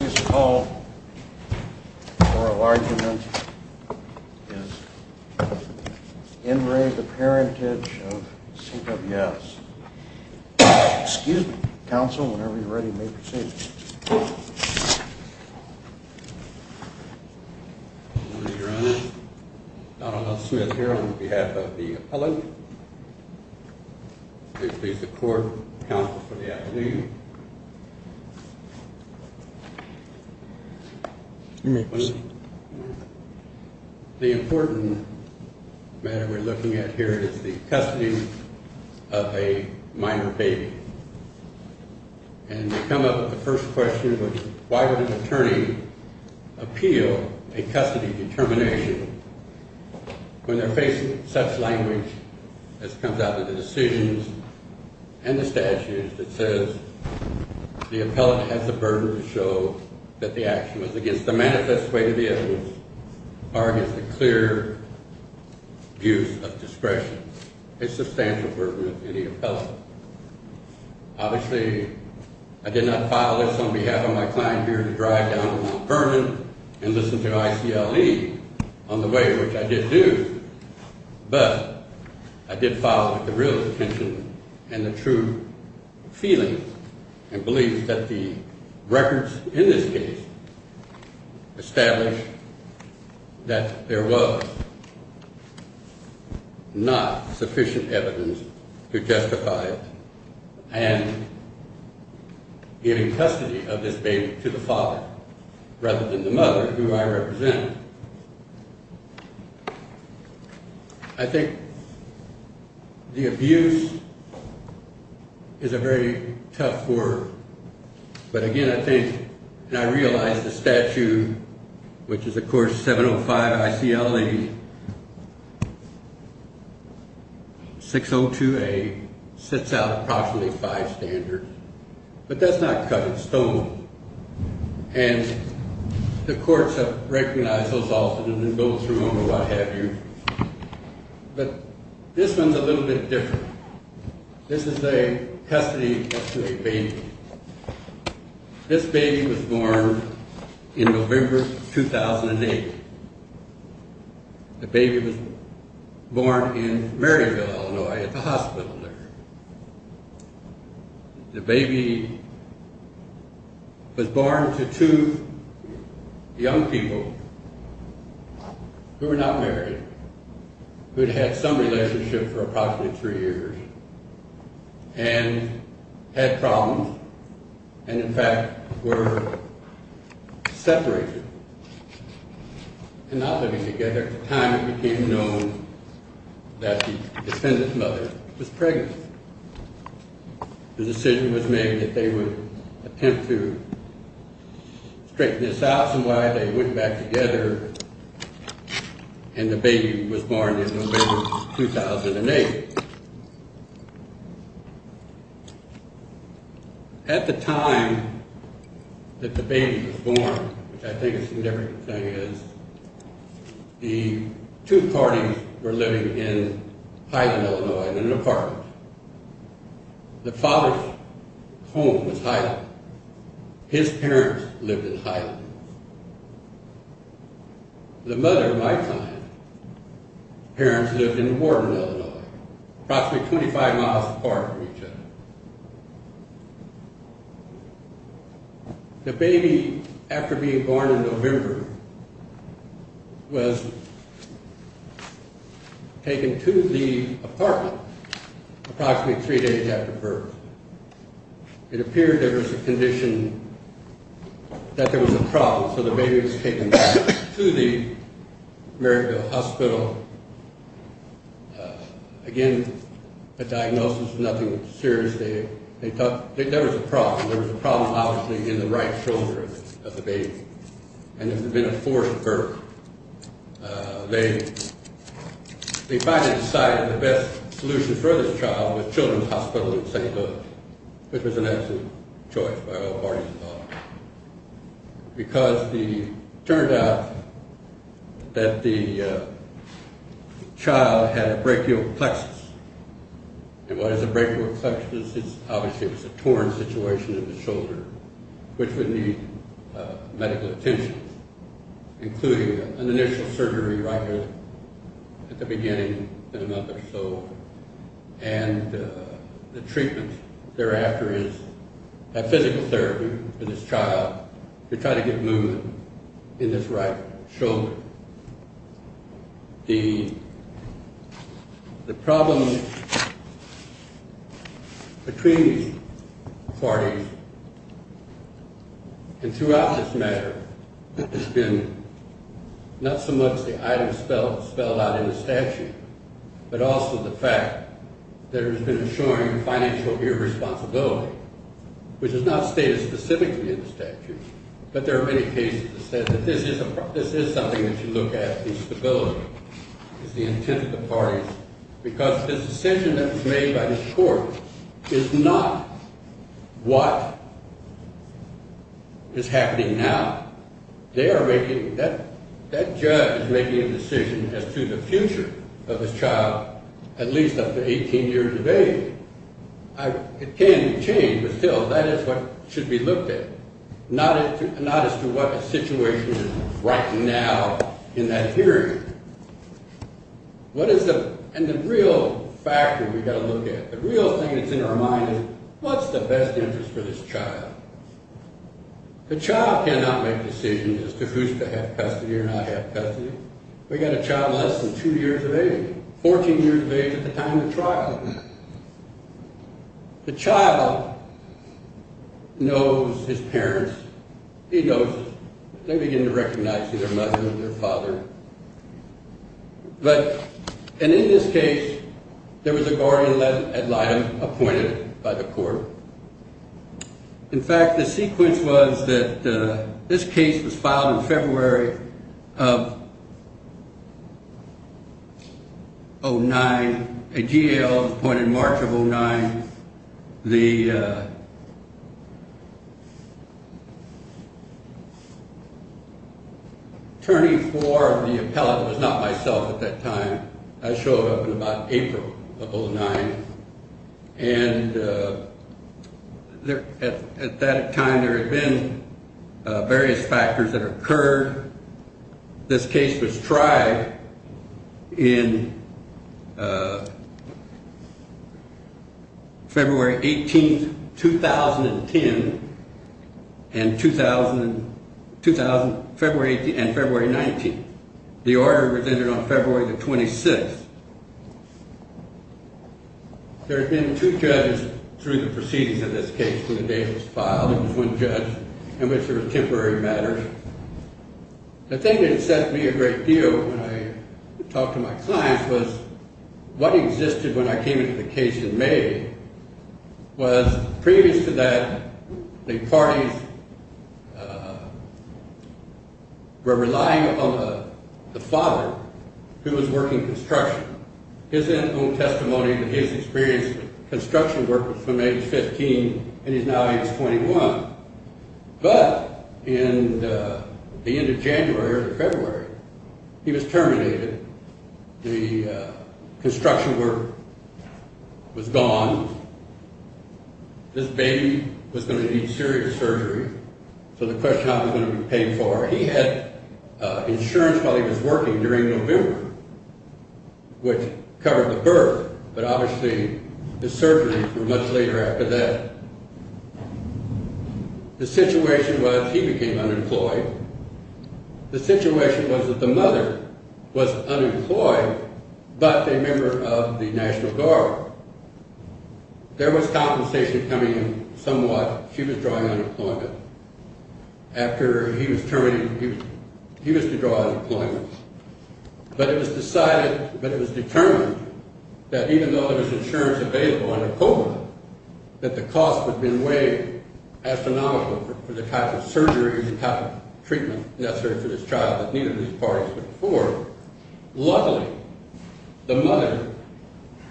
This call for argument is N. Ray, the Parentage of C.W.S. Excuse me, counsel, whenever you're ready, you may proceed. Your Honor, Donald L. Smith here on behalf of the appellant. Please be the court counsel for the appellant. You may proceed. The important matter we're looking at here is the custody of a minor baby. And to come up with the first question, why would an attorney appeal a custody determination when they're facing such language as comes out of the decisions and the statutes that says the appellant has the burden to show that the action was against the manifest way to the evidence or against a clear use of discretion. It's a substantial burden on the appellant. Obviously, I did not file this on behalf of my client here to drive down the burden and listen to ICLE on the way, which I did do, but I did file with the real intention and the true feeling and belief that the records in this case establish that there was not sufficient evidence to justify and giving custody of this baby to the father rather than the mother who I represented. I think the abuse is a very tough word, but again, I think and I realize the statute, which is, of course, 705 ICLE 602A, sets out approximately five standards, but that's not cut. It's stolen. And the courts have recognized those often and then go through them or what have you. But this one's a little bit different. This is a custody of a baby. This baby was born in November 2008. The baby was born in Maryville, Illinois at the hospital there. The baby was born to two young people who were not married, who had had some relationship for approximately three years and had problems and, in fact, were separated and not living together at the time it became known that the defendant's mother was pregnant. The decision was made that they would attempt to straighten this out and that's why they went back together and the baby was born in November 2008. At the time that the baby was born, which I think is a significant thing, the two parties were living in Highland, Illinois in an apartment. The father's home was Highland. His parents lived in Highland. The mother of my client's parents lived in Wharton, Illinois, approximately 25 miles apart from each other. The baby, after being born in November, was taken to the apartment approximately three days after birth. It appeared there was a condition, that there was a problem, so the baby was taken back to the Maryville Hospital. Again, the diagnosis was nothing serious. There was a problem. There was a problem, obviously, in the right shoulder of the baby and it had been a forced birth. They finally decided the best solution for this child was Children's Hospital in St. Louis, which was an absolute choice by all parties involved, because it turned out that the child had a brachial plexus. And what is a brachial plexus? Obviously, it was a torn situation in the shoulder, which would need medical attention, including an initial surgery right here at the beginning of the mother's soul. And the treatment thereafter is a physical therapy for this child to try to get movement in this right shoulder. The problem between these parties, and throughout this matter, has been not so much the items spelled out in the statute, but also the fact that there has been a showing of financial irresponsibility, which is not stated specifically in the statute, but there are many cases that say that this is something that should look at in stability, is the intent of the parties, because this decision that was made by this court is not what is happening now. They are making, that judge is making a decision as to the future of his child, at least up to 18 years of age. It can change, but still, that is what should be looked at, not as to what the situation is right now in that hearing. And the real factor we've got to look at, the real thing that's in our mind is, what's the best interest for this child? The child cannot make decisions as to who's to have custody or not have custody. We've got a child less than two years of age, 14 years of age at the time of trial. The child knows his parents. He knows them. They begin to recognize him, their mother, their father. But, and in this case, there was a guardian ad litem appointed by the court. In fact, the sequence was that this case was filed in February of 09, a GAO appointed in March of 09. The attorney for the appellate was not myself at that time. I showed up in about April of 09. And at that time, there had been various factors that occurred. This case was tried in February 18, 2010, and February 19. The order was ended on February the 26th. There had been two judges through the proceedings of this case when the date was filed. There was one judge in which there was temporary matters. The thing that had set me a great deal when I talked to my clients was what existed when I came into the case in May was previous to that, the parties were relying on the father who was working construction. His own testimony, his experience with construction work was from age 15, and he's now age 21. But, in the end of January or February, he was terminated. The construction work was gone. This baby was going to need serious surgery. So the question was how he was going to be paid for. He had insurance while he was working during November. Which covered the birth, but obviously the surgery was much later after that. The situation was he became unemployed. The situation was that the mother was unemployed but a member of the National Guard. There was compensation coming in somewhat. She was drawing unemployment. After he was terminated, he was to draw unemployment. But it was decided, but it was determined, that even though there was insurance available under COBRA, that the cost would have been way astronomical for the type of surgery and type of treatment necessary for this child that neither of these parties could afford. Luckily, the mother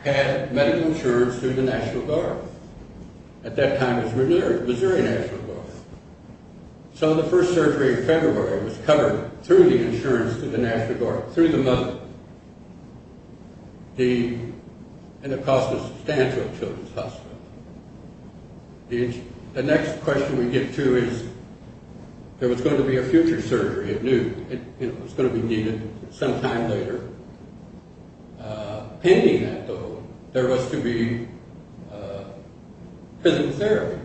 had medical insurance through the National Guard. At that time it was Missouri National Guard. So the first surgery in February was covered through the insurance through the National Guard, through the mother, and it cost a substantial children's hospital. The next question we get to is there was going to be a future surgery. It was going to be needed sometime later. Pending that, though, there was to be prison therapy.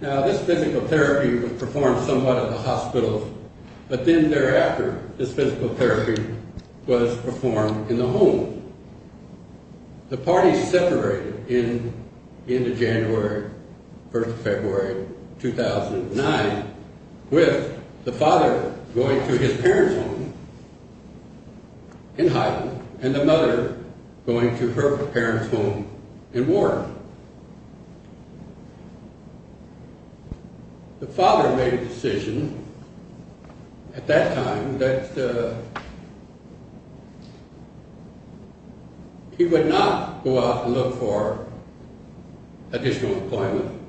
Now, this physical therapy was performed somewhat at the hospital, but then thereafter this physical therapy was performed in the home. The parties separated in the end of January, first of February, 2009, with the father going to his parents' home in Hyden and the mother going to her parents' home in Warren. The father made a decision at that time that he would not go out and look for additional employment.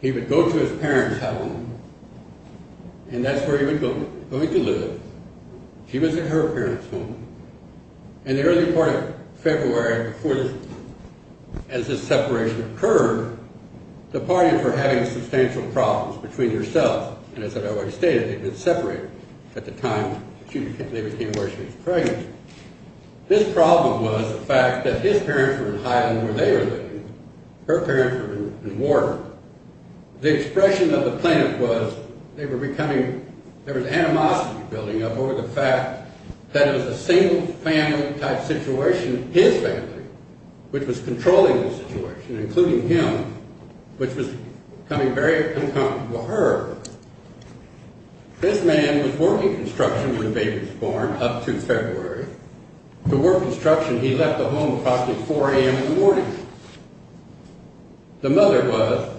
He would go to his parents' home, and that's where he was going to live. She was at her parents' home. In the early part of February, as this separation occurred, the parties were having substantial problems between themselves, and as I've already stated, they had been separated at the time they became aware she was pregnant. This problem was the fact that his parents were in Hyden where they were living, her parents were in Warren. The expression of the planet was they were becoming, there was animosity building up over the fact that it was a single-family type situation, his family, which was controlling the situation, including him, which was becoming very uncomfortable for her. This man was working construction when the baby was born up to February. To work construction, he left the home approximately 4 a.m. in the morning. The mother was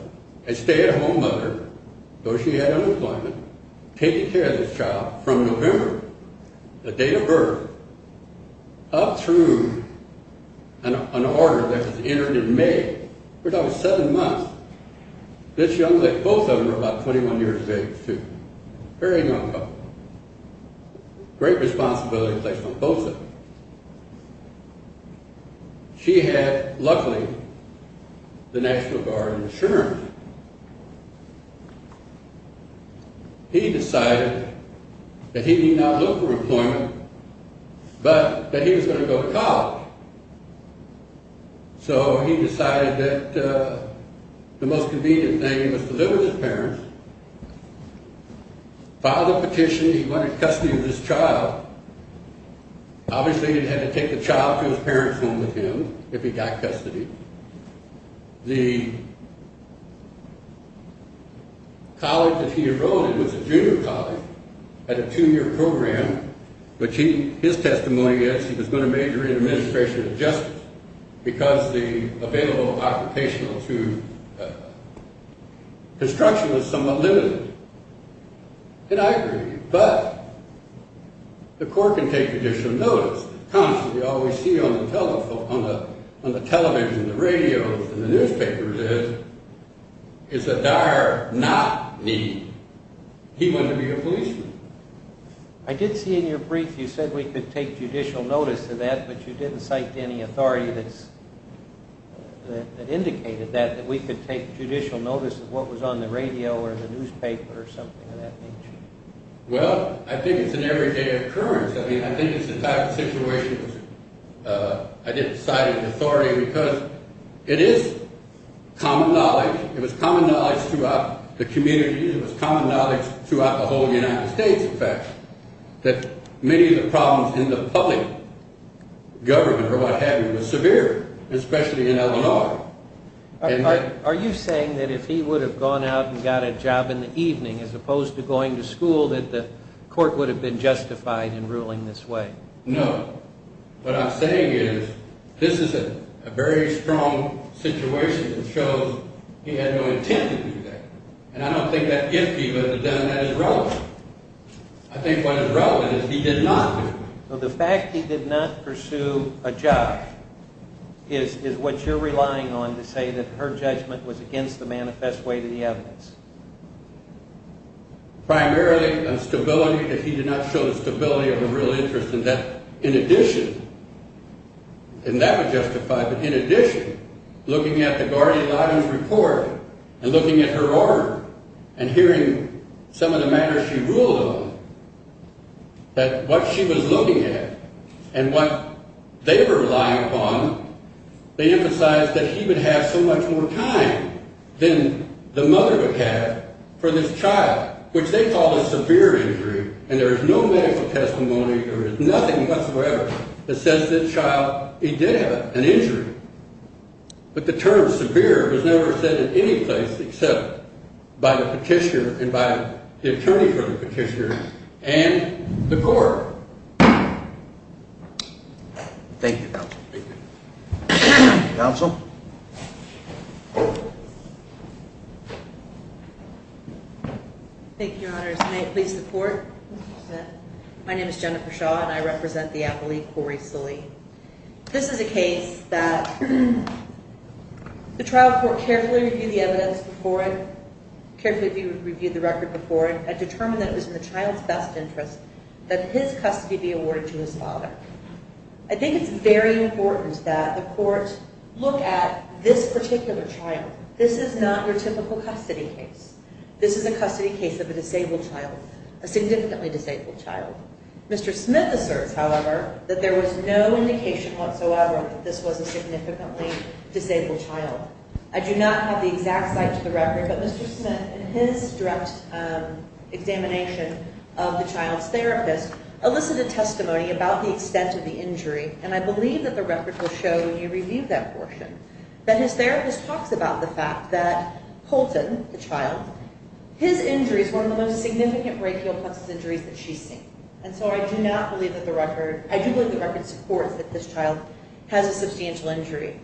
a stay-at-home mother, though she had unemployment, taking care of this child from November, the date of birth, up through an order that was entered in May. For about seven months. This young lady, both of them were about 21 years of age, too. Very young couple. Great responsibility was placed on both of them. She had, luckily, the National Guard insurance. He decided that he did not look for employment, but that he was going to go to college. So he decided that the most convenient thing was to live with his parents, filed a petition, he went in custody of this child. Obviously, he had to take the child to his parents' home with him if he got custody. The college that he enrolled in was a junior college, had a two-year program, which his testimony is he was going to major in administration and justice because the available occupational construction was somewhat limited. And I agree. But the court can take judicial notice. Constantly, all we see on the television, the radio, and the newspaper is that Dyer not needy. He wanted to be a policeman. I did see in your brief you said we could take judicial notice of that, but you didn't cite any authority that indicated that, that we could take judicial notice of what was on the radio or the newspaper or something of that nature. Well, I think it's an everyday occurrence. I mean, I think it's the type of situation where I didn't cite any authority because it is common knowledge. It was common knowledge throughout the community. It was common knowledge throughout the whole United States, in fact, that many of the problems in the public government or what have you were severe, especially in Illinois. Are you saying that if he would have gone out and got a job in the evening as opposed to going to school that the court would have been justified in ruling this way? No. What I'm saying is this is a very strong situation that shows he had no intent to do that. And I don't think that gift he would have done that is relevant. I think what is relevant is he did not do it. So the fact he did not pursue a job is what you're relying on to say that her judgment was against the manifest way to the evidence? Primarily a stability that he did not show the stability of a real interest in that. In addition, and that would justify, but in addition, looking at the Guardian-Lawdon's report and looking at her order and hearing some of the matters she ruled on, that what she was looking at and what they were relying upon, they emphasized that he would have so much more time than the mother would have for this child, which they called a severe injury. And there is no medical testimony, there is nothing whatsoever that says this child, he did have an injury. But the term severe was never said in any place except by the petitioner and by the attorney for the petitioner and the court. Thank you, Counsel. Counsel. Thank you, Your Honors. May it please the Court. My name is Jennifer Shaw and I represent the athlete Corey Sully. This is a case that the trial court carefully reviewed the evidence before it, carefully reviewed the record before it, and determined that it was in the child's best interest that his custody be awarded to his father. I think it's very important that the court look at this particular child. This is not your typical custody case. This is a custody case of a disabled child, a significantly disabled child. Mr. Smith asserts, however, that there was no indication whatsoever that this was a significantly disabled child. I do not have the exact site to the record, but Mr. Smith in his direct examination of the child's therapist elicited testimony about the extent of the injury. And I believe that the record will show when you review that portion that his therapist talks about the fact that Colton, the child, his injury is one of the most significant brachial plexus injuries that she's seen. And so I do not believe that the record, I do believe the record supports that this child has a substantial injury.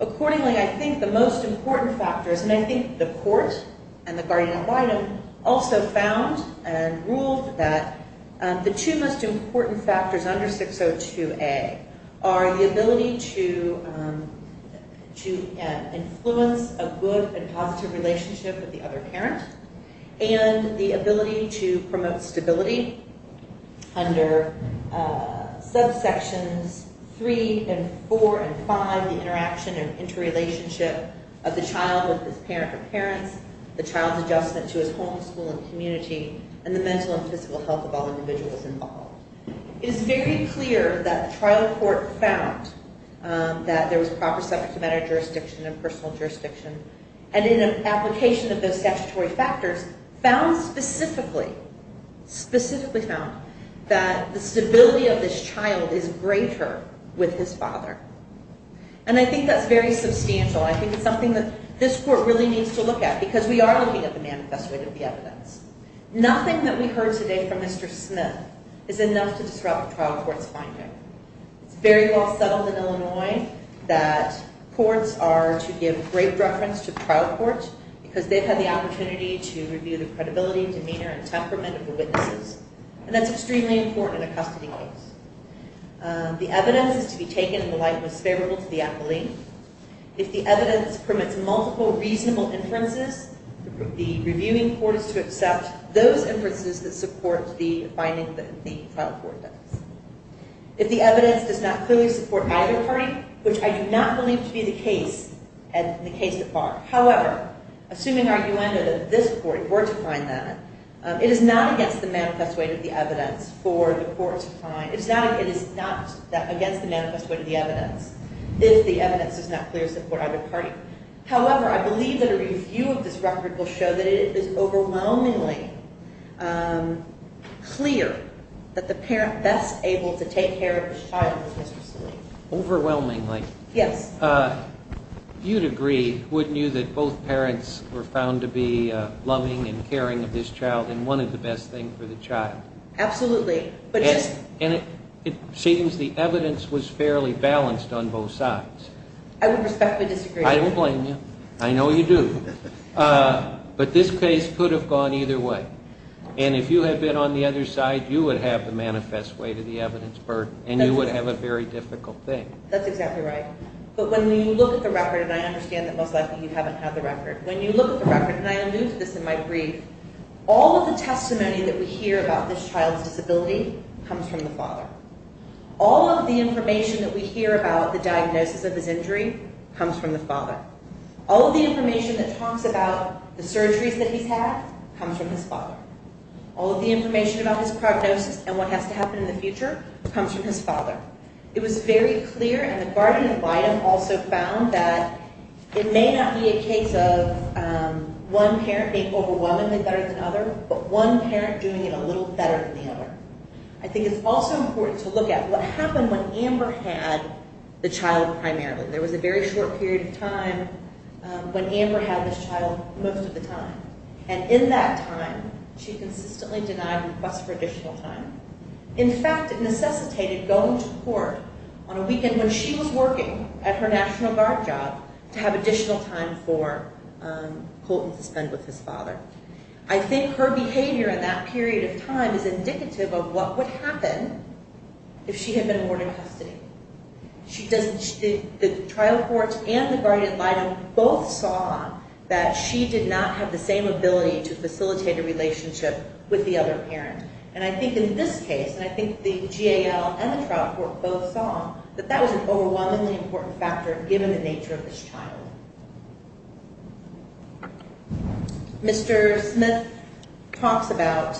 Accordingly, I think the most important factors, and I think the court and the guardian ad litem also found and ruled that the two most important factors under 602A are the ability to influence a good and positive relationship with the other parent, and the ability to promote stability under subsections 3 and 4 and 5, and the ability to promote healthy interaction and interrelationship of the child with his parent or parents, the child's adjustment to his home, school, and community, and the mental and physical health of all individuals involved. It is very clear that the trial court found that there was proper subject matter jurisdiction and personal jurisdiction, and in an application of those statutory factors found specifically, specifically found that the stability of this child is greater with his father. And I think that's very substantial. I think it's something that this court really needs to look at, because we are looking at the manifesto of the evidence. Nothing that we heard today from Mr. Smith is enough to disrupt a trial court's finding. It's very well settled in Illinois that courts are to give great preference to trial courts because they've had the opportunity to review the credibility, demeanor, and temperament of the witnesses, and that's extremely important in a custody case. The evidence is to be taken in the light that's favorable to the appellee. If the evidence permits multiple reasonable inferences, the reviewing court is to accept those inferences that support the finding that the trial court does. If the evidence does not clearly support either party, which I do not believe to be the case, and the case that are. However, assuming argument that this court were to find that, it is not against the manifesto of the evidence for the court to find. It is not against the manifesto of the evidence if the evidence does not clearly support either party. However, I believe that a review of this record will show that it is overwhelmingly clear that the parent best able to take care of his child was Mr. Salim. Overwhelmingly? Yes. You'd agree, wouldn't you, that both parents were found to be loving and caring of this child and wanted the best thing for the child? Absolutely. And it seems the evidence was fairly balanced on both sides. I would respectfully disagree. I don't blame you. I know you do. But this case could have gone either way. And if you had been on the other side, you would have the manifest way to the evidence burden and you would have a very difficult thing. That's exactly right. But when you look at the record, and I understand that most likely you haven't had the record, when you look at the record, and I allude to this in my brief, all of the testimony that we hear about this child's disability comes from the father. All of the information that we hear about the diagnosis of his injury comes from the father. All of the information that talks about the surgeries that he's had comes from his father. and what has to happen in the future comes from his father. It was very clear, and the guardian of item also found, that it may not be a case of one parent being overwhelmed in better than another, but one parent doing it a little better than the other. I think it's also important to look at what happened when Amber had the child primarily. There was a very short period of time when Amber had this child most of the time. And in that time, she consistently denied requests for additional time. In fact, it necessitated going to court on a weekend when she was working at her National Guard job to have additional time for Colton to spend with his father. I think her behavior in that period of time is indicative of what would happen if she had been awarded custody. The trial court and the guardian of item both saw that she did not have the same ability to facilitate a relationship with the other parent. And I think in this case, and I think the GAL and the trial court both saw, that that was an overwhelmingly important factor given the nature of this child. Mr. Smith talks about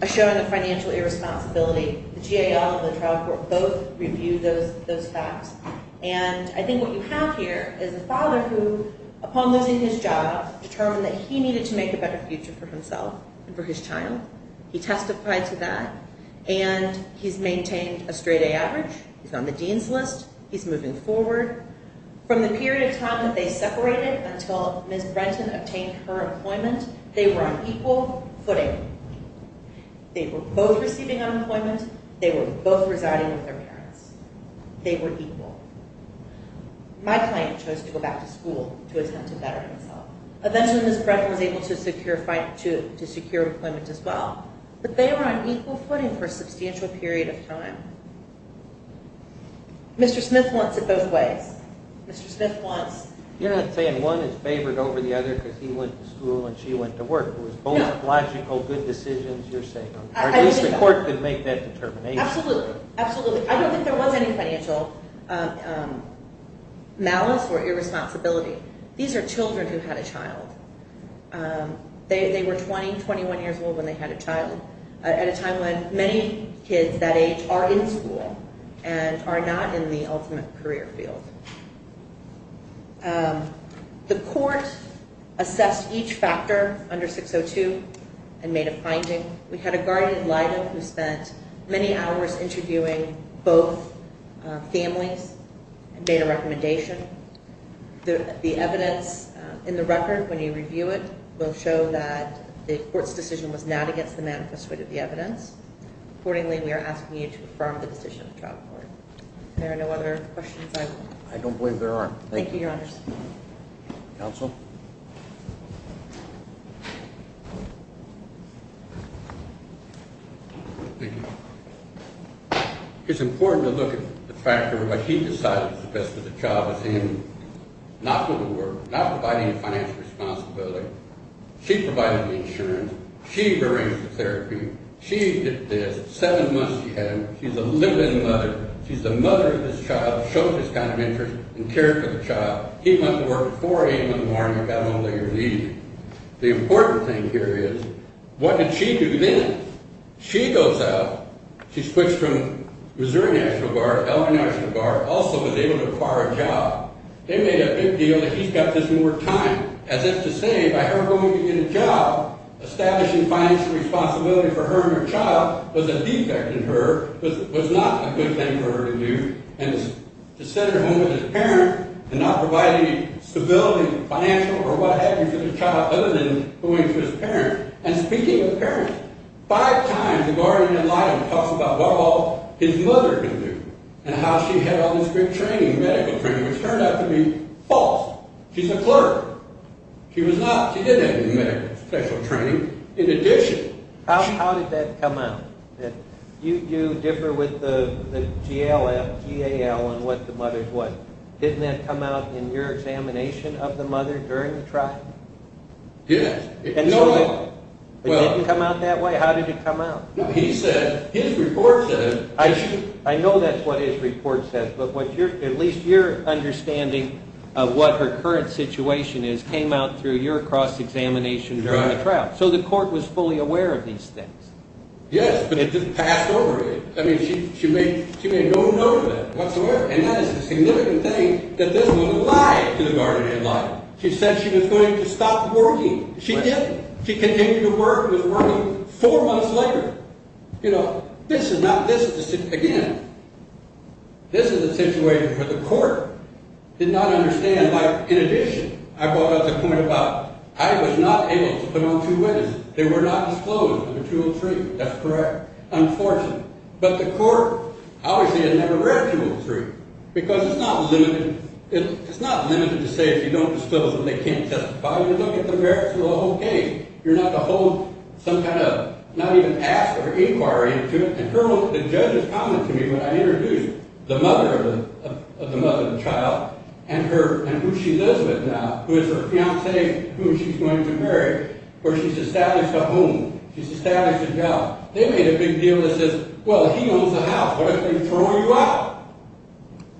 a showing of financial irresponsibility. The GAL and the trial court both reviewed those facts. And I think what you have here is a father who, upon losing his job, determined that he needed to make a better future for himself and for his child. He testified to that. And he's maintained a straight A average. He's on the dean's list. He's moving forward. From the period of time that they separated until Ms. Brenton obtained her employment, they were on equal footing. They were both receiving unemployment. They were both residing with their parents. They were equal. My client chose to go back to school to attempt to better himself. Eventually Ms. Brenton was able to secure employment as well, but they were on equal footing for a substantial period of time. Mr. Smith wants it both ways. Mr. Smith wants... You're not saying one is favored over the other because he went to school and she went to work. It was both logical, good decisions you're saying. Or at least the court could make that determination. Absolutely. I don't think there was any financial malice or irresponsibility. These are children who had a child. They were 20, 21 years old when they had a child at a time when many kids that age are in school and are not in the ultimate career field. The court assessed each factor under 602 and made a finding. We had a guardian, Lida, who spent many hours interviewing both families and made a recommendation. The evidence in the record, when you review it, will show that the court's decision was not against the manifesto of the evidence. Accordingly, we are asking you to affirm the decision of the child court. Are there no other questions? I don't believe there are. Thank you, Your Honors. Counsel? Thank you. It's important to look at the fact that he decided that the best for the child was him. Not the lawyer. Not providing a financial responsibility. She provided the insurance. She arranged the therapy. She did this. Seven months she had him. She's a living mother. She's the mother of this child, showed this kind of interest and cared for the child. He went to work at 4 a.m. in the morning and got him on later leave. The important thing here is, what did she do then? She goes out. She switched from Missouri National Guard. L.A. National Guard also was able to acquire a job. They made a big deal that he's got this more time. As if to say, by her going to get a job, establishing financial responsibility for her and her child was a defect in her, was not a good thing for her to do. And to send her home as a parent, and not providing stability, financial or what have you, to the child other than going to his parents. And speaking of parents, five times the Guardian of Life talks about what all his mother can do and how she had all this great training, medical training, which turned out to be false. She's a clerk. She was not. She didn't have any medical special training. In addition, she... How did that come out? You do differ with the GLF, GAL, on what the mother's what. Didn't that come out in your examination of the mother during the trial? Yes. No. It didn't come out that way? How did it come out? He said, his report said... I know that's what his report said, but at least your understanding of what her current situation is came out through your cross-examination during the trial. So the court was fully aware of these things. Yes, but it just passed over. I mean, she made no note of that whatsoever. And that is a significant thing that this woman lied to the Guardian of Life. She said she was going to stop working. She didn't. She continued to work and was working four months later. You know, this is not... Again, this is a situation where the court did not understand. In addition, I brought up the point about I was not able to put on two weddings. They were not disclosed under 203. That's correct. Unfortunately. But the court obviously had never read 203 because it's not limited to say if you don't disclose them, they can't testify. You don't get the merits of the whole case. You're not to hold some kind of... not even ask for an inquiry into it. And the judges commented to me when I introduced the mother of the child and who she lives with now, who is her fiancé whom she's going to marry, where she's established a home, she's established a job. They made a big deal that says, well, he owns the house. What if they throw you out?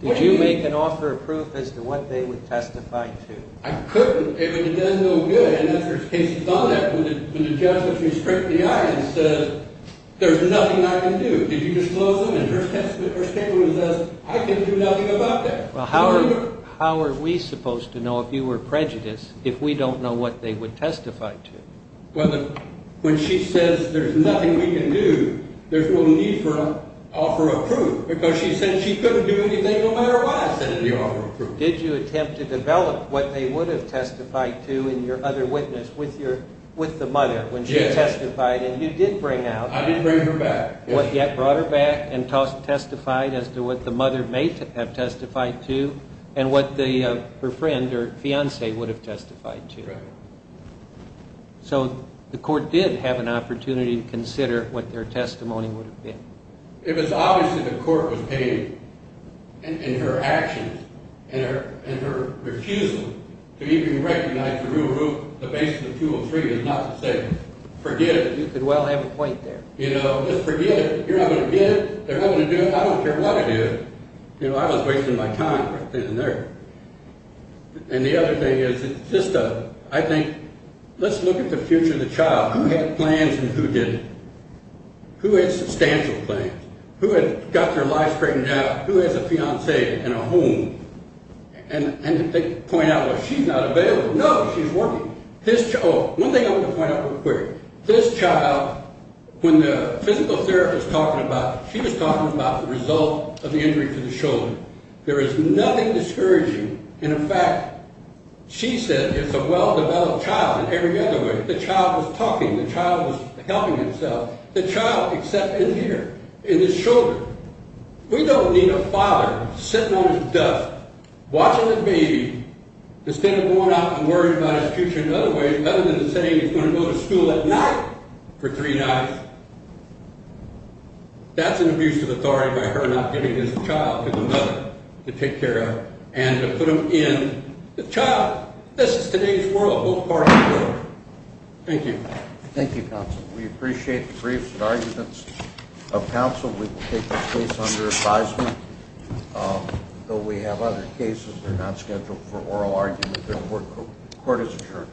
Did you make an offer of proof as to what they would testify to? I couldn't. But it does no good. And there's cases on that when the judge looks you straight in the eye and says, there's nothing I can do. Did you disclose them? And her statement was as, I can do nothing about that. Well, how are we supposed to know if you were prejudiced if we don't know what they would testify to? When she says there's nothing we can do, there's no need for an offer of proof because she said she couldn't do anything no matter what I said in the offer of proof. Did you attempt to develop what they would have testified to in your other witness with the mother when she testified? And you did bring out... I did bring her back. You brought her back and testified as to what the mother may have testified to and what her friend or fiancé would have testified to. So the court did have an opportunity to consider what their testimony would have been. It was obvious that the court was paying in her actions, in her refusal to even recognize the rule of rule, the basis of 203, and not to say, forget it. You could well have a point there. You know, just forget it. You're not going to get it. They're not going to do it. I don't care what I do. You know, I was wasting my time right then and there. And the other thing is, it's just a... I think, let's look at the future of the child. Who had plans and who didn't? Who had substantial plans? Who had got their life straightened out? Who has a fiancé and a home? And they point out, well, she's not available. No, she's working. Oh, one thing I want to point out real quick. This child, when the physical therapist was talking about it, she was talking about the result of the injury to the shoulder. There is nothing discouraging. In fact, she said it's a well-developed child in every other way. The child was talking. The child was helping itself. The child, except in here, in the shoulder. We don't need a father sitting on his desk, watching the baby, instead of going out and worrying about his future in other ways, other than saying he's going to go to school at night for three nights. That's an abuse of authority by her not giving this child to the mother to take care of and to put him in. The child, this is today's world, what part of the world? Thank you. Thank you, counsel. We appreciate the briefs and arguments of counsel. We will take this case under advisement. Though we have other cases, they're not scheduled for oral argument. Therefore, the court is adjourned.